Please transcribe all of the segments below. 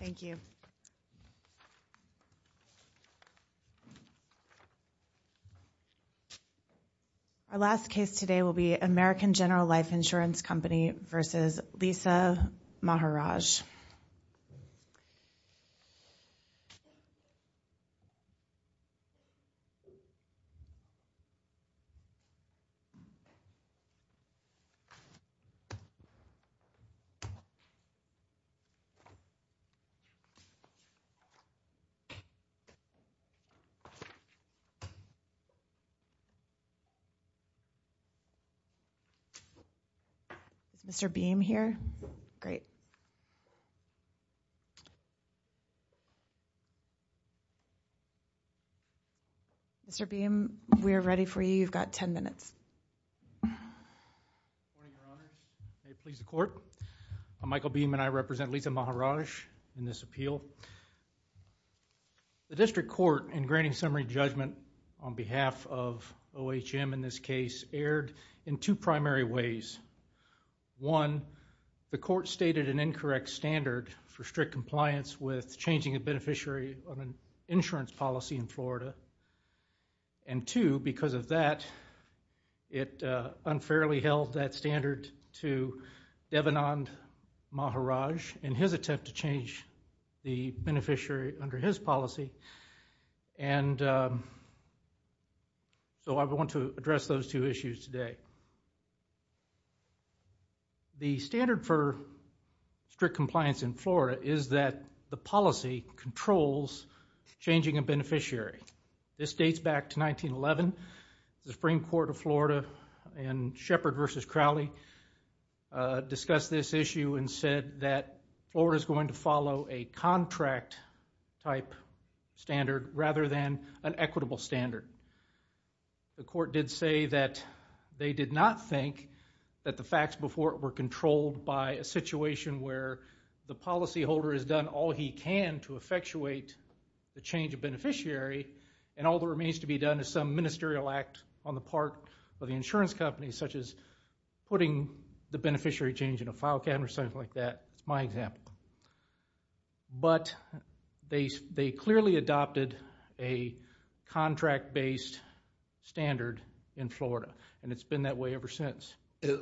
Thank you Our last case today will be American General Life Insurance Company versus Lisa Maharajh Mr. Beahm here? Great. Mr. Beahm, we are ready for you. You've got 10 minutes. Good morning, Your Honor. May it please the court. I'm Michael Beahm and I represent Lisa Maharajh in this appeal. The district court in granting summary judgment on behalf of OHM in this case erred in two primary ways. One, the court stated an incorrect standard for strict compliance with changing a beneficiary of an insurance policy in Florida. And two, because of that, it unfairly held that standard to Devanand Maharajh in his attempt to change the beneficiary under his policy. And so I want to address those two issues today. The standard for strict compliance in Florida is that the policy controls changing a beneficiary. This dates back to 1911. The Supreme Court of Florida in Shepard v. Crowley discussed this issue and said that Florida is going to follow a contract type standard rather than an equitable standard. The court did say that they did not think that the facts before it were controlled by a situation where the policyholder has done all he can to effectuate the change of beneficiary and all that remains to be done is some ministerial act on the part of the insurance company, such as putting the beneficiary change in a file cabinet or something like that. It's my example. But they clearly adopted a contract-based standard in Florida and it's been that way ever since.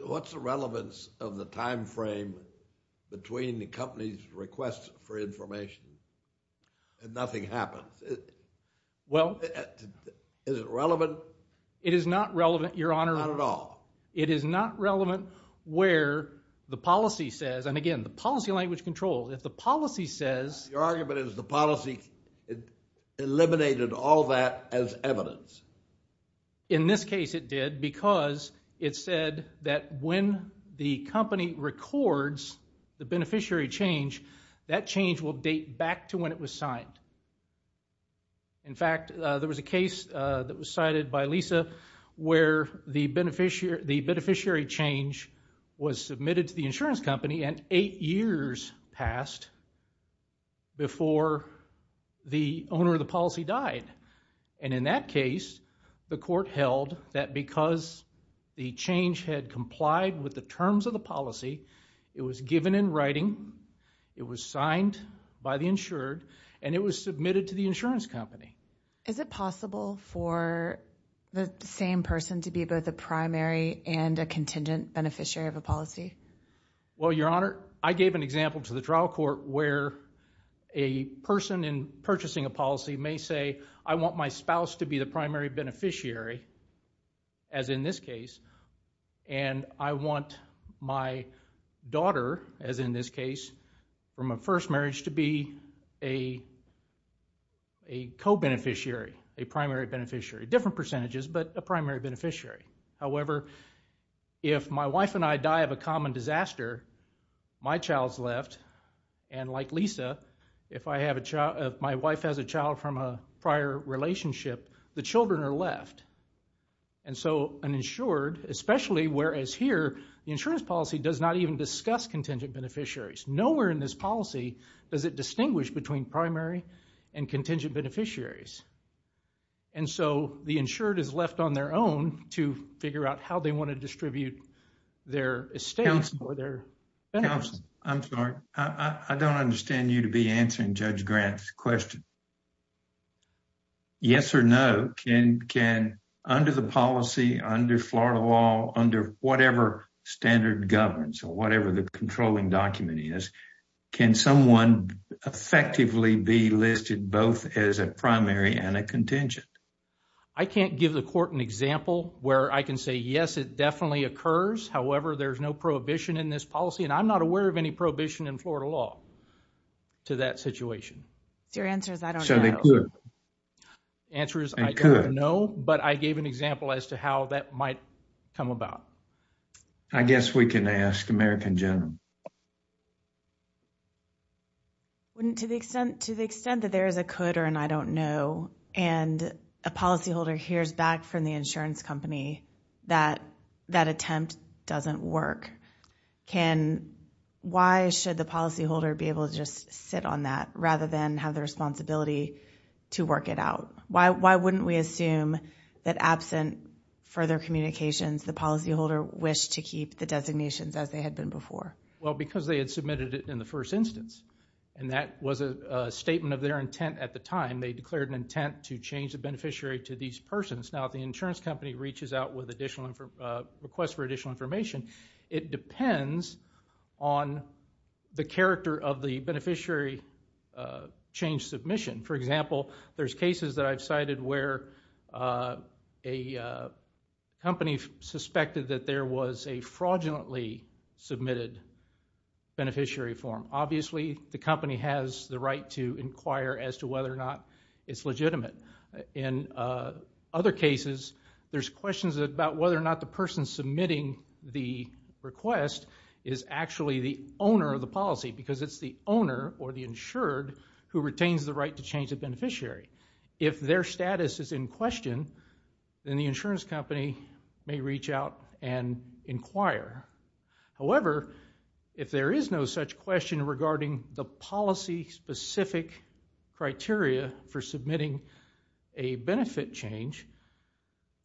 What's the relevance of the time frame between the company's request for information and nothing happens? Is it relevant? It is not relevant, Your Honor. Not at all? It is not relevant where the policy says, and again, the policy language controls. If the policy says... Your argument is the policy eliminated all that as evidence. In this case it did because it said that when the company records the beneficiary change, that change will date back to when it was signed. In fact, there was a case that was cited by Lisa where the beneficiary change was submitted to the insurance company and eight years passed before the owner of the policy died. And in that case, the court held that because the change had complied with the terms of the policy, it was given in writing, it was signed by the insured, and it was submitted to the insurance company. Is it possible for the same person to be both a primary and a contingent beneficiary of a policy? Well, Your Honor, I gave an example to the trial court where a person in purchasing a policy may say, I want my spouse to be the primary beneficiary, as in this case, and I want my daughter, as in this case, from a first marriage to be a co-beneficiary, a primary beneficiary. Different percentages, but a primary beneficiary. However, if my wife and I die of a common disaster, my child's left, and like Lisa, if my wife has a child from a prior relationship, the children are left. And so an insured, especially whereas here, the insurance policy does not even discuss contingent beneficiaries. Nowhere in this policy does it distinguish between primary and contingent beneficiaries. And so the insured is left on their own to figure out how they want to distribute their estates or their benefits. Counsel, I'm sorry, I don't understand you to be answering Judge Grant's question. Yes or no, can under the policy, under Florida law, under whatever standard governs or whatever the controlling document is, can someone effectively be listed both as a primary and a contingent? I can't give the court an example where I can say, yes, it definitely occurs. However, there's no prohibition in this policy, and I'm not aware of any prohibition in Florida law to that situation. Your answer is I don't know. So they could. The answer is I don't know, but I gave an example as to how that might come about. I guess we can ask American General. To the extent that there is a could or an I don't know, and a policyholder hears back from the insurance company that that attempt doesn't work, why should the policyholder be able to just sit on that rather than have the responsibility to work it out? Why wouldn't we assume that absent further communications, the policyholder wished to keep the designations as they had been before? Well, because they had submitted it in the first instance, and that was a statement of their intent at the time. They declared an intent to change the beneficiary to these persons. Now, if the insurance company reaches out with a request for additional information, it depends on the character of the beneficiary change submission. For example, there's cases that I've cited where a company suspected that there was a fraudulently submitted beneficiary form. Obviously, the company has the right to inquire as to whether or not it's legitimate. In other cases, there's questions about whether or not the person submitting the request is actually the owner of the policy because it's the owner or the insured who retains the right to change the beneficiary. If their status is in question, then the insurance company may reach out and inquire. However, if there is no such question regarding the policy-specific criteria for submitting a benefit change,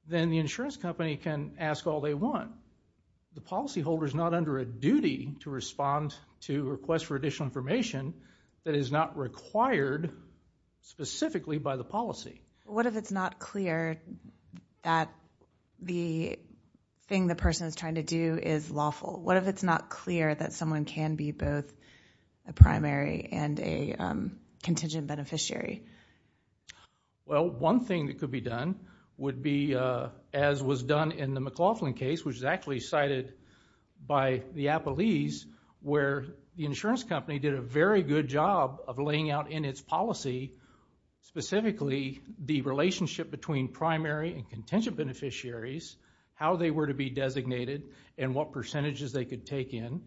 then the insurance company can ask all they want. The policyholder is not under a duty to respond to requests for additional information that is not required specifically by the policy. What if it's not clear that the thing the person is trying to do is lawful? What if it's not clear that someone can be both a primary and a contingent beneficiary? Well, one thing that could be done would be, as was done in the McLaughlin case, which was actually cited by the Applees, where the insurance company did a very good job of laying out in its policy, specifically the relationship between primary and contingent beneficiaries, how they were to be designated and what percentages they could take in,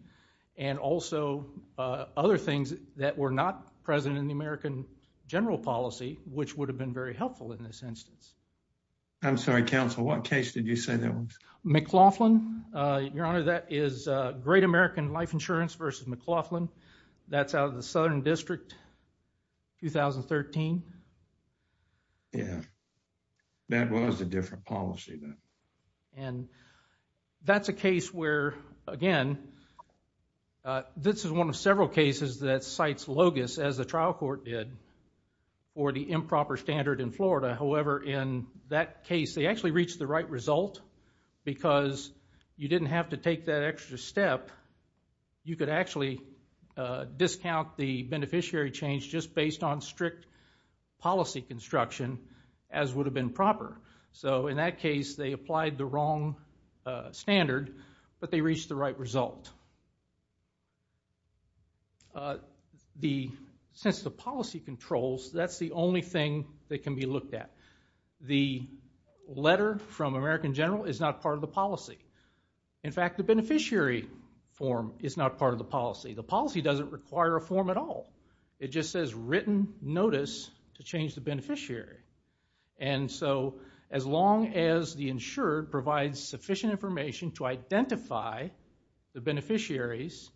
and also other things that were not present in the American general policy, which would have been very helpful in this instance. I'm sorry, counsel. What case did you say that was? McLaughlin. Your Honor, that is Great American Life Insurance v. McLaughlin. That's out of the Southern District, 2013. Yeah. That was a different policy then. And that's a case where, again, this is one of several cases that cites LOGIS, as the trial court did, for the improper standard in Florida. However, in that case, they actually reached the right result because you didn't have to take that extra step. You could actually discount the beneficiary change just based on strict policy construction, as would have been proper. So in that case, they applied the wrong standard, but they reached the right result. Since the policy controls, that's the only thing that can be looked at. The letter from American general is not part of the policy. In fact, the beneficiary form is not part of the policy. The policy doesn't require a form at all. It just says written notice to change the beneficiary. And so, as long as the insured provides sufficient information to identify the beneficiaries,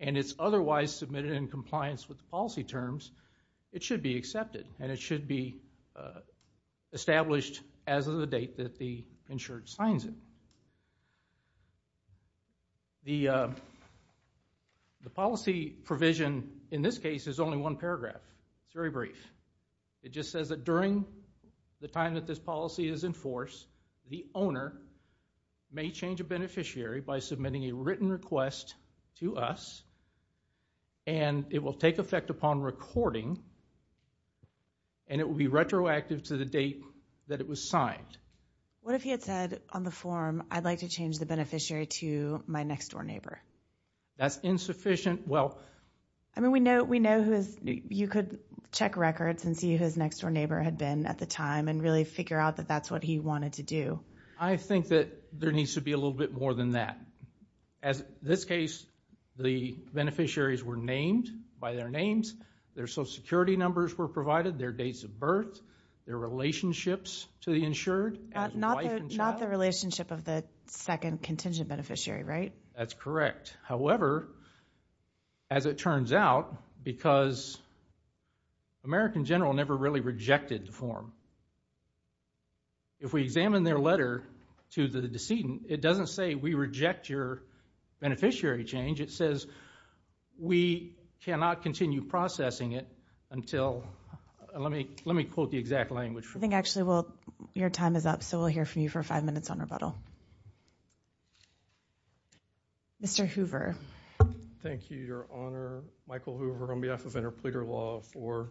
and it's otherwise submitted in compliance with the policy terms, it should be accepted. And it should be established as of the date that the insured signs it. The policy provision in this case is only one paragraph. It's very brief. It just says that during the time that this policy is in force, the owner may change a beneficiary by submitting a written request to us, and it will take effect upon recording, and it will be retroactive to the date that it was signed. What if he had said on the form, I'd like to change the beneficiary to my next-door neighbor? That's insufficient. I mean, we know you could check records and see who his next-door neighbor had been at the time and really figure out that that's what he wanted to do. I think that there needs to be a little bit more than that. As this case, the beneficiaries were named by their names, their social security numbers were provided, their dates of birth, their relationships to the insured. Not the relationship of the second contingent beneficiary, right? That's correct. However, as it turns out, because American General never really rejected the form, if we examine their letter to the decedent, it doesn't say we reject your beneficiary change. It says we cannot continue processing it until... Let me quote the exact language. I think actually your time is up, so we'll hear from you for five minutes on rebuttal. Mr. Hoover. Thank you, Your Honor. Michael Hoover on behalf of Interpreter Law for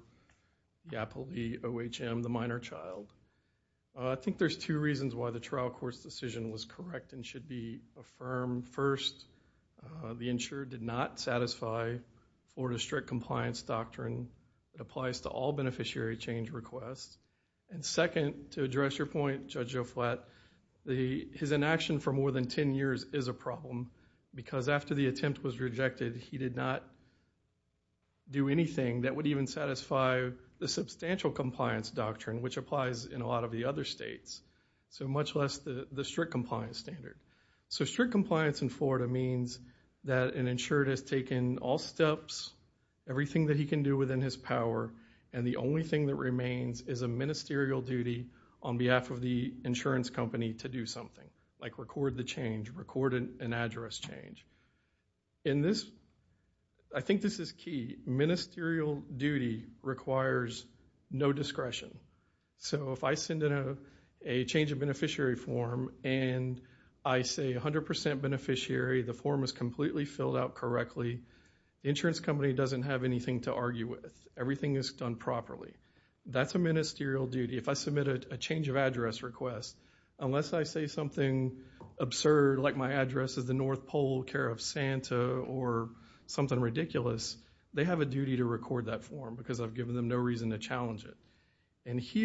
the OHM, the minor child. I think there's two reasons why the trial court's decision was correct and should be affirmed. First, the insured did not satisfy Florida strict compliance doctrine. It applies to all beneficiary change requests. And second, to address your point, Judge Joflat, his inaction for more than 10 years is a problem because after the attempt was rejected, he did not do anything that would even satisfy the substantial compliance doctrine, which applies in a lot of the other states, so much less the strict compliance standard. So strict compliance in Florida means that an insured has taken all steps, everything that he can do within his power, and the only thing that remains is a ministerial duty on behalf of the insurance company to do something, like record the change, record an address change. In this, I think this is key, ministerial duty requires no discretion. So if I send in a change of beneficiary form and I say 100% beneficiary, the form is completely filled out correctly, the insurance company doesn't have anything to argue with. Everything is done properly. That's a ministerial duty. If I submit a change of address request, unless I say something absurd like my address is the North Pole, care of Santa, or something ridiculous, they have a duty to record that form because I've given them no reason to challenge it. It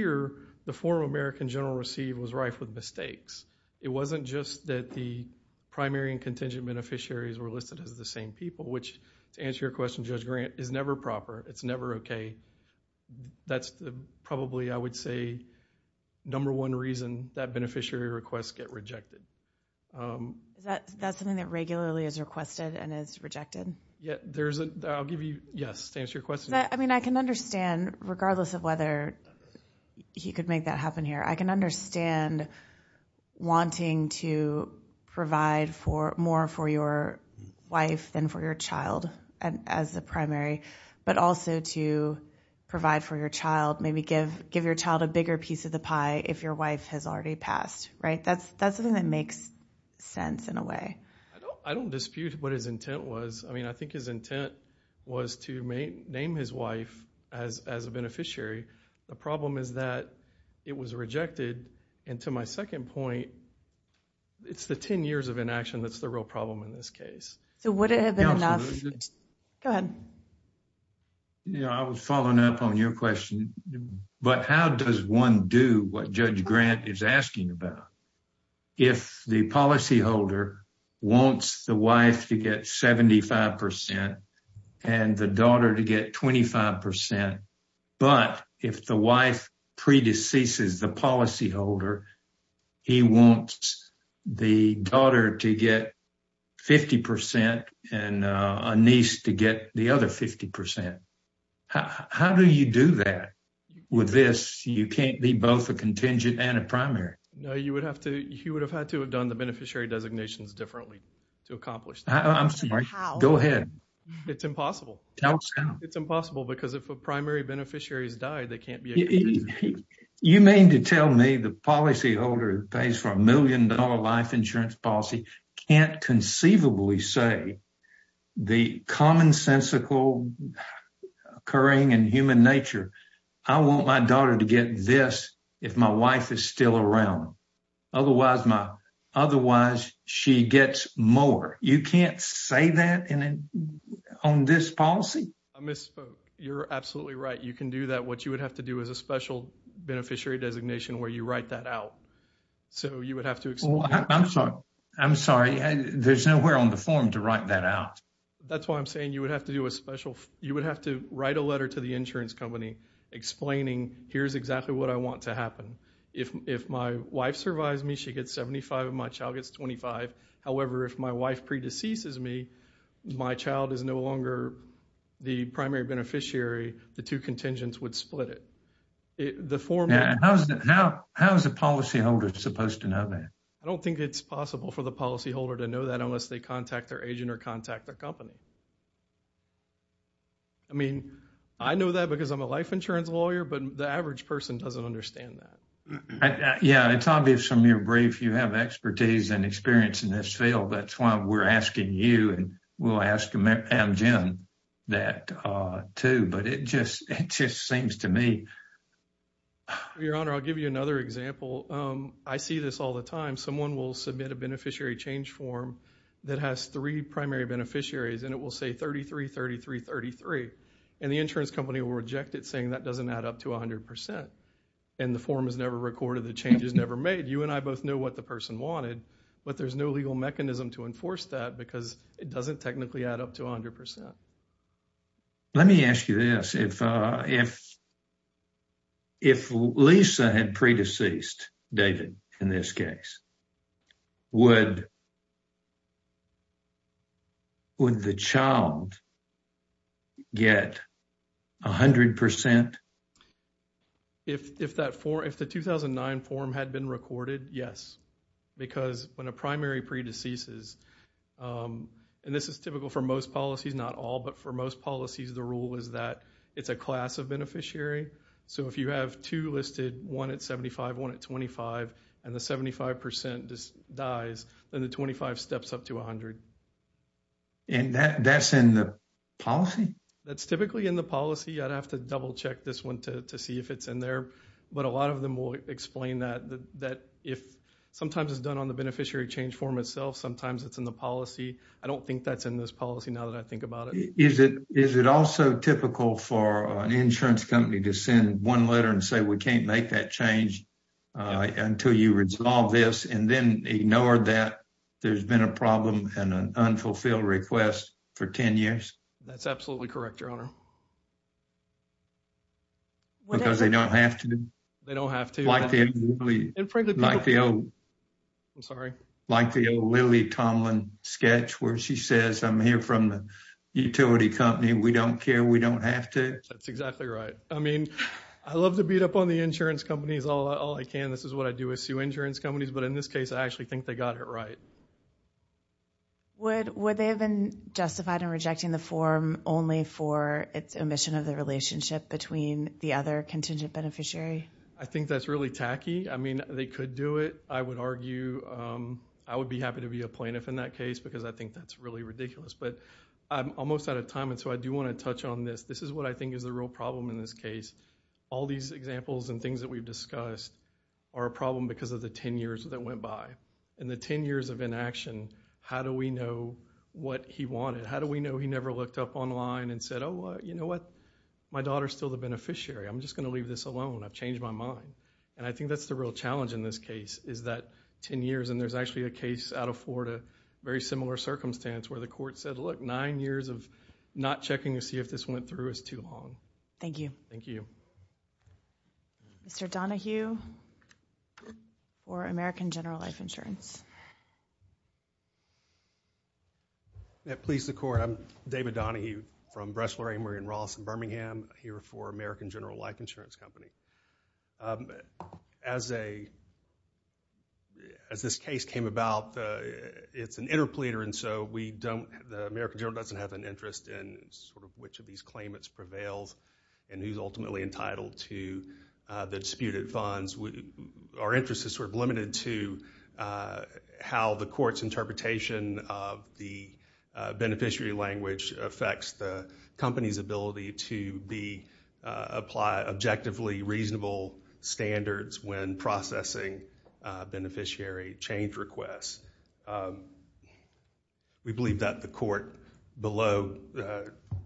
wasn't just that the primary and contingent beneficiaries were listed as the same people, which, to answer your question, Judge Grant, is never proper. It's never okay. That's probably, I would say, number one reason that beneficiary requests get rejected. Is that something that regularly is requested and is rejected? I'll give you a yes to answer your question. I mean, I can understand, regardless of whether he could make that happen here, I can understand wanting to provide more for your wife than for your child as a primary, but also to provide for your child, maybe give your child a bigger piece of the pie if your wife has already passed. That's something that makes sense in a way. I don't dispute what his intent was. I mean, I think his intent was to name his wife as a beneficiary. The problem is that it was rejected, and to my second point, it's the 10 years of inaction that's the real problem in this case. So would it have been enough? Go ahead. I was following up on your question, but how does one do what Judge Grant is asking about? If the policyholder wants the wife to get 75% and the daughter to get 25%, but if the wife predeceases the policyholder, he wants the daughter to get 50% and a niece to get the other 50%. How do you do that? With this, you can't be both a contingent and a primary. No, you would have to have done the beneficiary designations differently to accomplish that. I'm sorry. Go ahead. It's impossible. Tell us now. It's impossible because if a primary beneficiary has died, they can't be a contingent. You mean to tell me the policyholder who pays for a million-dollar life insurance policy can't conceivably say the commonsensical occurring in human nature, I want my daughter to get this if my wife is still around. Otherwise, she gets more. You can't say that on this policy? I misspoke. You're absolutely right. You can do that. What you would have to do is a special beneficiary designation where you write that out. I'm sorry. There's nowhere on the form to write that out. That's why I'm saying you would have to write a letter to the insurance company explaining here's exactly what I want to happen. If my wife survives me, she gets 75 and my child gets 25. However, if my wife predeceases me, my child is no longer the primary beneficiary. The two contingents would split it. How is the policyholder supposed to know that? I don't think it's possible for the policyholder to know that unless they contact their agent or contact their company. I mean, I know that because I'm a life insurance lawyer, but the average person doesn't understand that. Yeah, it's obvious from your brief. You have expertise and experience in this field. That's why we're asking you and we'll ask Jim that, too. But it just seems to me. Your Honor, I'll give you another example. I see this all the time. Someone will submit a beneficiary change form that has three primary beneficiaries, and it will say 33, 33, 33. And the insurance company will reject it, saying that doesn't add up to 100%. And the form is never recorded. The change is never made. You and I both know what the person wanted, but there's no legal mechanism to enforce that because it doesn't technically add up to 100%. Let me ask you this. If Lisa had pre-deceased, David, in this case, would the child get 100%? If the 2009 form had been recorded, yes. Because when a primary pre-deceases, and this is typical for most policies, not all, but for most policies, the rule is that it's a class of beneficiary. So if you have two listed, one at 75, one at 25, and the 75% dies, then the 25 steps up to 100. And that's in the policy? That's typically in the policy. I'd have to double check this one to see if it's in there. But a lot of them will explain that if sometimes it's done on the beneficiary change form itself, sometimes it's in the policy. I don't think that's in this policy now that I think about it. Is it also typical for an insurance company to send one letter and say we can't make that change until you resolve this and then ignore that there's been a problem and an unfulfilled request for 10 years? Because they don't have to. They don't have to. Like the old Lily Tomlin sketch where she says I'm here from the utility company. We don't care. We don't have to. That's exactly right. I mean, I love to beat up on the insurance companies all I can. This is what I do with insurance companies. But in this case, I actually think they got it right. Would they have been justified in rejecting the form only for its omission of the relationship between the other contingent beneficiary? I think that's really tacky. I mean, they could do it. I would argue I would be happy to be a plaintiff in that case because I think that's really ridiculous. But I'm almost out of time, and so I do want to touch on this. This is what I think is the real problem in this case. All these examples and things that we've discussed are a problem because of the 10 years that went by. In the 10 years of inaction, how do we know what he wanted? How do we know he never looked up online and said, oh, you know what? My daughter's still the beneficiary. I'm just going to leave this alone. I've changed my mind. And I think that's the real challenge in this case is that 10 years, and there's actually a case out of Florida, very similar circumstance where the court said, look, nine years of not checking to see if this went through is too long. Thank you. Thank you. Mr. Donahue for American General Life Insurance. Please, the court. I'm David Donahue from Bressler, Amory & Ross in Birmingham, here for American General Life Insurance Company. As this case came about, it's an interpleader, and so the American general doesn't have an interest in sort of which of these claimants prevails and who's ultimately entitled to the disputed funds. Our interest is sort of limited to how the court's interpretation of the beneficiary language affects the company's ability to apply objectively reasonable standards when processing beneficiary change requests. We believe that the court below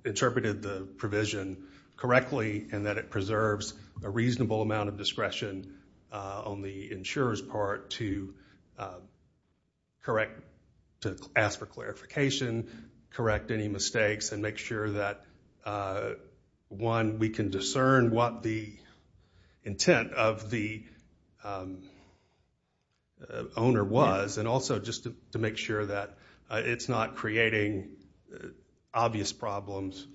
interpreted the provision correctly and that it preserves a reasonable amount of discretion on the insurer's part to correct, to ask for clarification, correct any mistakes, and make sure that, one, we can discern what the intent of the owner was, and also just to make sure that it's not creating obvious problems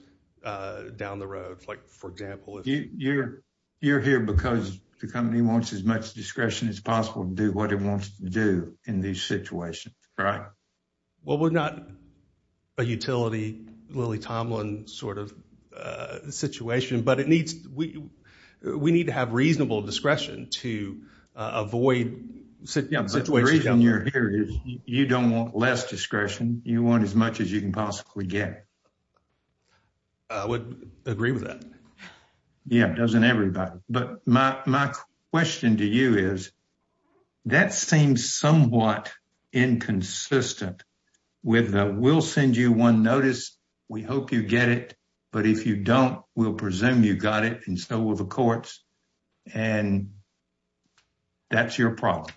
down the road. Like, for example, You're here because the company wants as much discretion as possible to do what it wants to do in these situations, right? Well, we're not a utility Lily Tomlin sort of situation, but we need to have reasonable discretion to avoid situations like that. The reason you're here is you don't want less discretion. You want as much as you can possibly get. I would agree with that. Yeah, doesn't everybody. But my question to you is that seems somewhat inconsistent with the we'll send you one notice. We hope you get it. But if you don't, we'll presume you got it. And so will the courts. And that's your problem.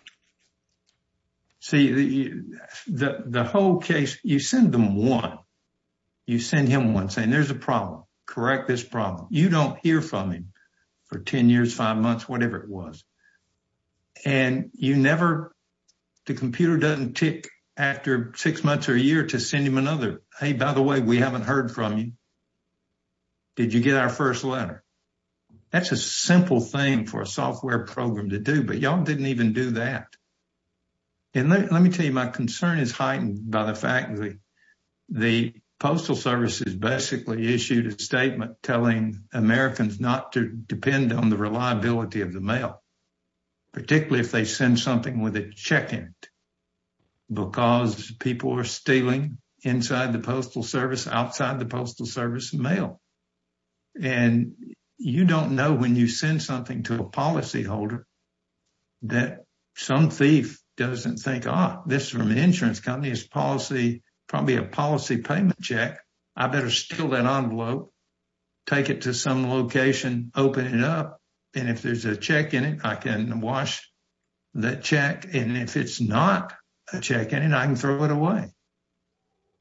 See, the whole case, you send them one. You send him one saying there's a problem. Correct this problem. You don't hear from him for 10 years, 5 months, whatever it was. And you never the computer doesn't tick after 6 months or a year to send him another. Hey, by the way, we haven't heard from you. Did you get our 1st letter? That's a simple thing for a software program to do, but y'all didn't even do that. And let me tell you, my concern is heightened by the fact that the postal service is basically issued a statement telling Americans not to depend on the reliability of the mail. Particularly if they send something with a check in. Because people are stealing inside the postal service outside the postal service mail. And you don't know when you send something to a policy holder. That some thief doesn't think this from the insurance company is policy, probably a policy payment check. I better steal that envelope, take it to some location, open it up. And if there's a check in it, I can wash that check. And if it's not a check in and I can throw it away.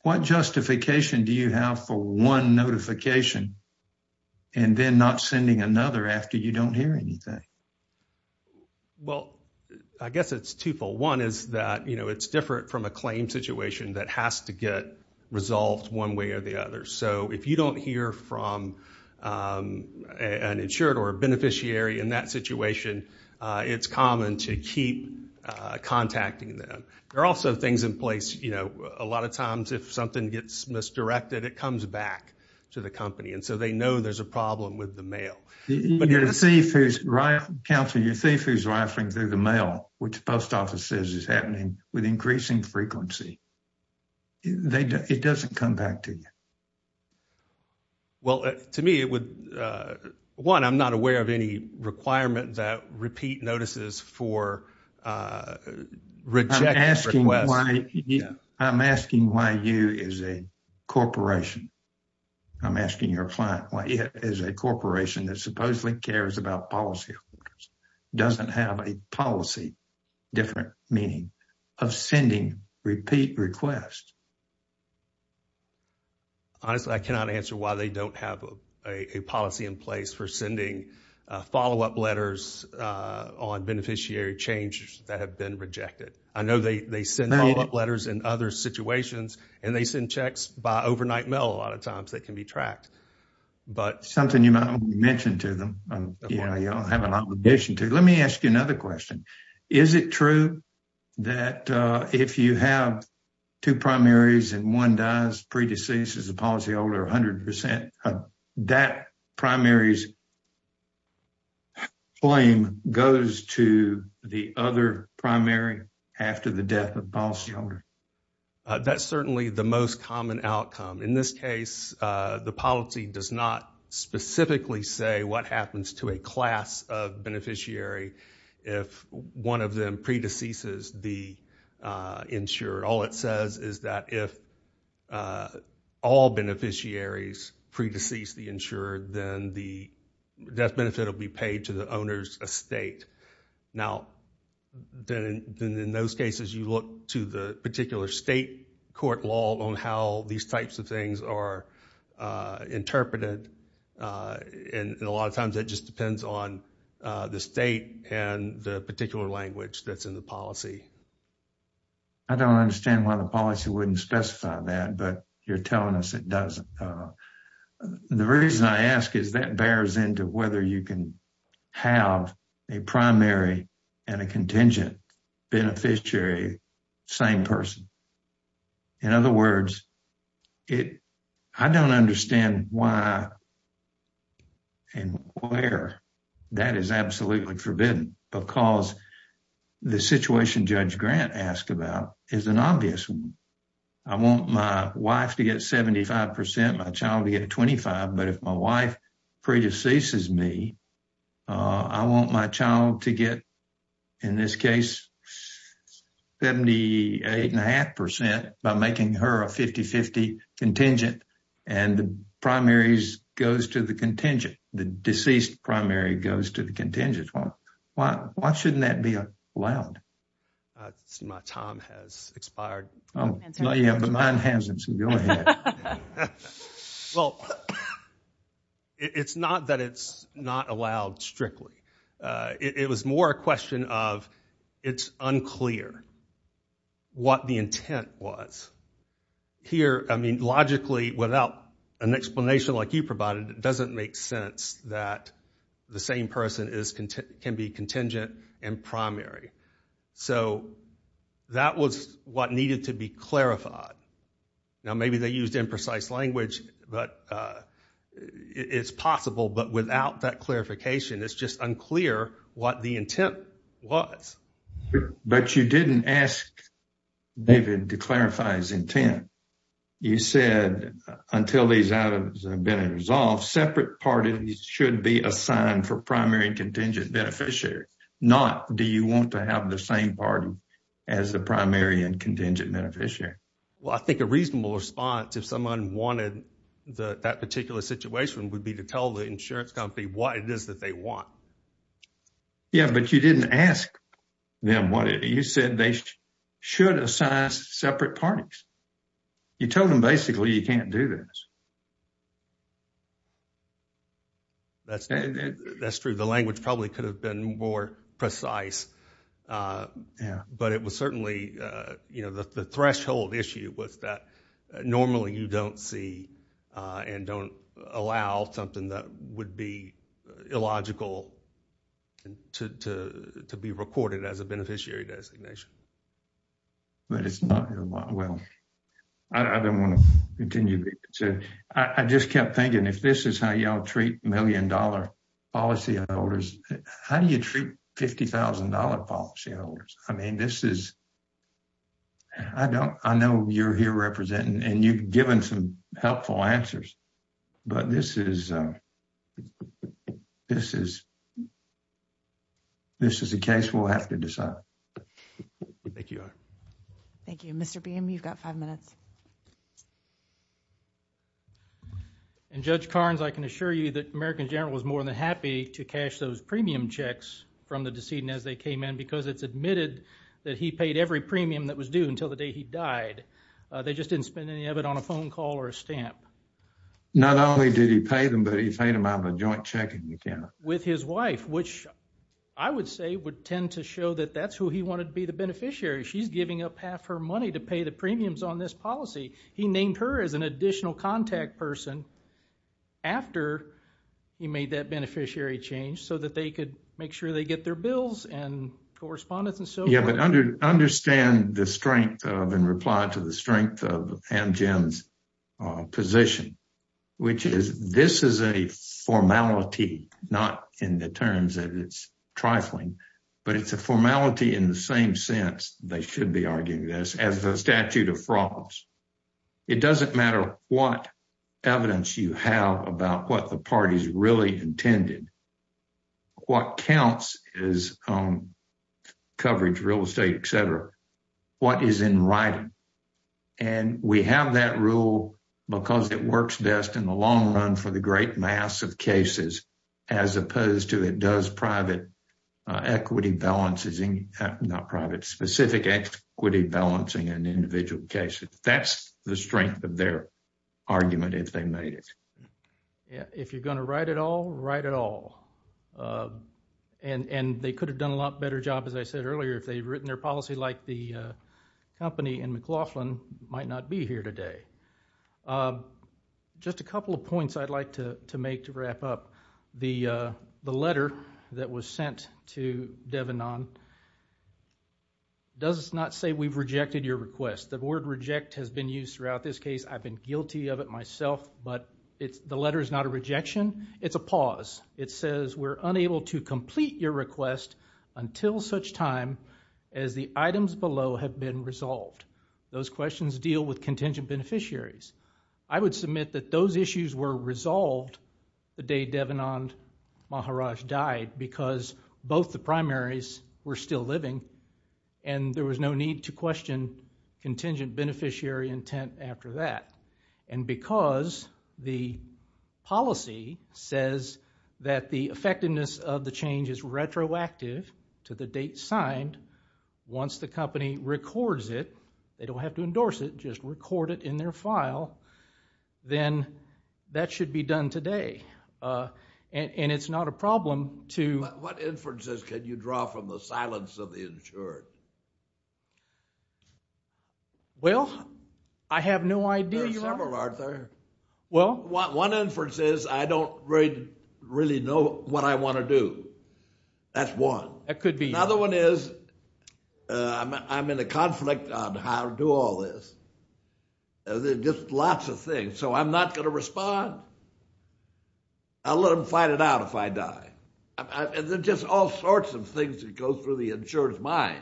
What justification do you have for 1 notification? And then not sending another after you don't hear anything. Well, I guess it's 2 for 1 is that it's different from a claim situation that has to get resolved 1 way or the other. So if you don't hear from an insured or a beneficiary in that situation, it's common to keep contacting them. There are also things in place. You know, a lot of times if something gets misdirected, it comes back to the company. And so they know there's a problem with the mail. You're a thief who's rife. Counselor, you're a thief who's rifling through the mail, which the post office says is happening with increasing frequency. It doesn't come back to you. Well, to me, it would 1, I'm not aware of any requirement that repeat notices for. I'm asking why you is a corporation. I'm asking your client is a corporation that supposedly cares about policy. Doesn't have a policy. Different meaning of sending repeat requests. Honestly, I cannot answer why they don't have a policy in place for sending follow up letters on beneficiary changes that have been rejected. I know they send letters and other situations, and they send checks by overnight mail. A lot of times that can be tracked. But something you mentioned to them, you know, you don't have an obligation to let me ask you another question. Is it true that if you have 2 primaries and 1 does predecessors, the policy older 100% that primaries. Flame goes to the other primary after the death of policy. That's certainly the most common outcome in this case. The policy does not specifically say what happens to a class of beneficiary if one of them predecessors the insured. All it says is that if all beneficiaries predecessors the insured, then the death benefit will be paid to the owner's estate. Now, then in those cases, you look to the particular state court law on how these types of things are interpreted. And a lot of times that just depends on the state and the particular language that's in the policy. I don't understand why the policy wouldn't specify that, but you're telling us it doesn't. The reason I ask is that bears into whether you can have a primary and a contingent beneficiary. Same person. In other words, it I don't understand why. And where that is absolutely forbidden because the situation judge grant asked about is an obvious. I want my wife to get 75 percent, my child to get 25. But if my wife predecessors me, I want my child to get, in this case, 78 and a half percent by making her a 50 50 contingent. And the primaries goes to the contingent. The deceased primary goes to the contingent. Well, why? Why shouldn't that be allowed? My time has expired. Oh, yeah, but mine hasn't. Well, it's not that it's not allowed strictly. It was more a question of it's unclear what the intent was. Here, I mean, logically, without an explanation like you provided, it doesn't make sense that the same person is can be contingent and primary. So that was what needed to be clarified. Now, maybe they used imprecise language, but it's possible. But without that clarification, it's just unclear what the intent was. But you didn't ask David to clarify his intent. You said until these items have been resolved, separate parties should be assigned for primary contingent beneficiary. Not do you want to have the same party as the primary and contingent beneficiary? Well, I think a reasonable response, if someone wanted that particular situation, would be to tell the insurance company what it is that they want. Yeah, but you didn't ask them what you said. You said they should assign separate parties. You told them basically you can't do this. That's true. The language probably could have been more precise. But it was certainly, you know, the threshold issue was that normally you don't see and don't allow something that would be illogical to be recorded as a beneficiary designation. But it's not. Well, I don't want to continue. I just kept thinking if this is how y'all treat million dollar policy holders, how do you treat fifty thousand dollar policy holders? I mean, this is. I don't I know you're here representing and you've given some helpful answers, but this is this is. This is a case we'll have to decide. Thank you. Thank you, Mr. Beam. You've got five minutes. And Judge Carnes, I can assure you that American general was more than happy to cash those premium checks from the decedent as they came in because it's admitted that he paid every premium that was due until the day he died. They just didn't spend any of it on a phone call or a stamp. Not only did he pay them, but he paid them out of a joint check with his wife, which I would say would tend to show that that's who he wanted to be the beneficiary. She's giving up half her money to pay the premiums on this policy. He named her as an additional contact person after he made that beneficiary change so that they could make sure they get their bills and correspondence. Understand the strength of and reply to the strength of Jim's position, which is this is a formality, not in the terms that it's trifling, but it's a formality in the same sense. They should be arguing this as a statute of frauds. It doesn't matter what evidence you have about what the party's really intended. What counts is coverage, real estate, et cetera. What is in writing? And we have that rule because it works best in the long run for the great mass of cases, as opposed to it does private equity balances, not private specific equity balancing an individual case. That's the strength of their argument. If you're going to write it all, write it all. And they could have done a lot better job, as I said earlier, if they had written their policy like the company in McLaughlin might not be here today. Just a couple of points I'd like to make to wrap up. The letter that was sent to Devanon does not say we've rejected your request. The word reject has been used throughout this case. I've been guilty of it myself, but the letter is not a rejection. It's a pause. It says we're unable to complete your request until such time as the items below have been resolved. Those questions deal with contingent beneficiaries. I would submit that those issues were resolved the day Devanon Maharaj died because both the primaries were still living and there was no need to question contingent beneficiary intent after that. And because the policy says that the effectiveness of the change is retroactive to the date signed, once the company records it, they don't have to endorse it, just record it in their file, then that should be done today. And it's not a problem to – What inferences can you draw from the silence of the insured? Well, I have no idea. There are several, Arthur. Well? One inference is I don't really know what I want to do. That's one. That could be. Another one is I'm in a conflict on how to do all this. There's just lots of things, so I'm not going to respond. I'll let them find it out if I die. There's just all sorts of things that go through the insurer's mind.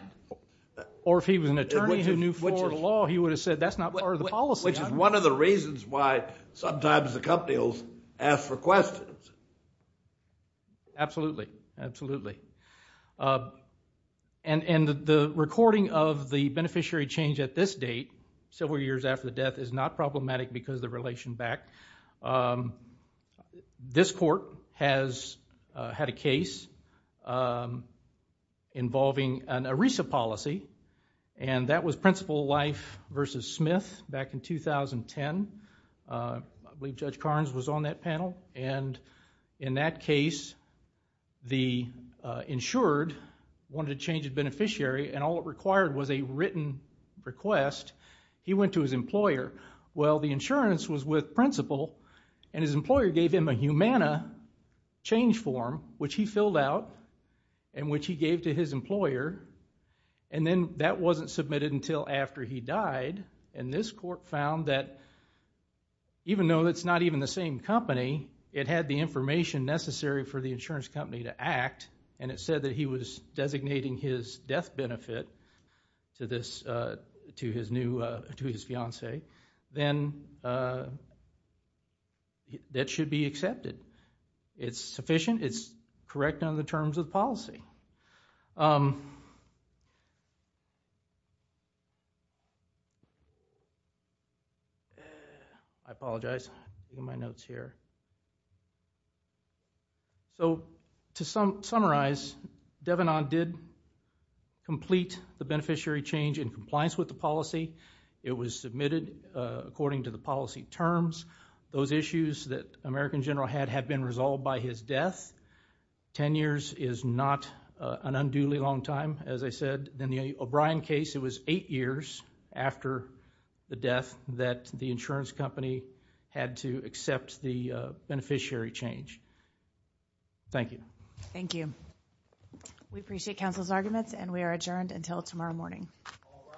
Or if he was an attorney who knew Florida law, he would have said that's not part of the policy. Which is one of the reasons why sometimes the company will ask for questions. Absolutely, absolutely. And the recording of the beneficiary change at this date, several years after the death, is not problematic because of the relation back. This court has had a case involving an ERISA policy. And that was Principal Life v. Smith back in 2010. I believe Judge Carnes was on that panel. And in that case, the insured wanted to change the beneficiary, and all it required was a written request. He went to his employer. Well, the insurance was with Principal, and his employer gave him a Humana change form, which he filled out, and which he gave to his employer. And then that wasn't submitted until after he died. And this court found that even though it's not even the same company, it had the information necessary for the insurance company to act. And it said that he was designating his death benefit to his fiance. Then that should be accepted. It's sufficient, it's correct on the terms of the policy. I apologize, my notes here. So, to summarize, Devanon did complete the beneficiary change in compliance with the policy. It was submitted according to the policy terms. Those issues that American General had had been resolved by his death. Ten years is not an unduly long time, as I said. In the O'Brien case, it was eight years after the death that the insurance company had to accept the beneficiary change. Thank you. Thank you. We appreciate counsel's arguments, and we are adjourned until tomorrow morning. All rise.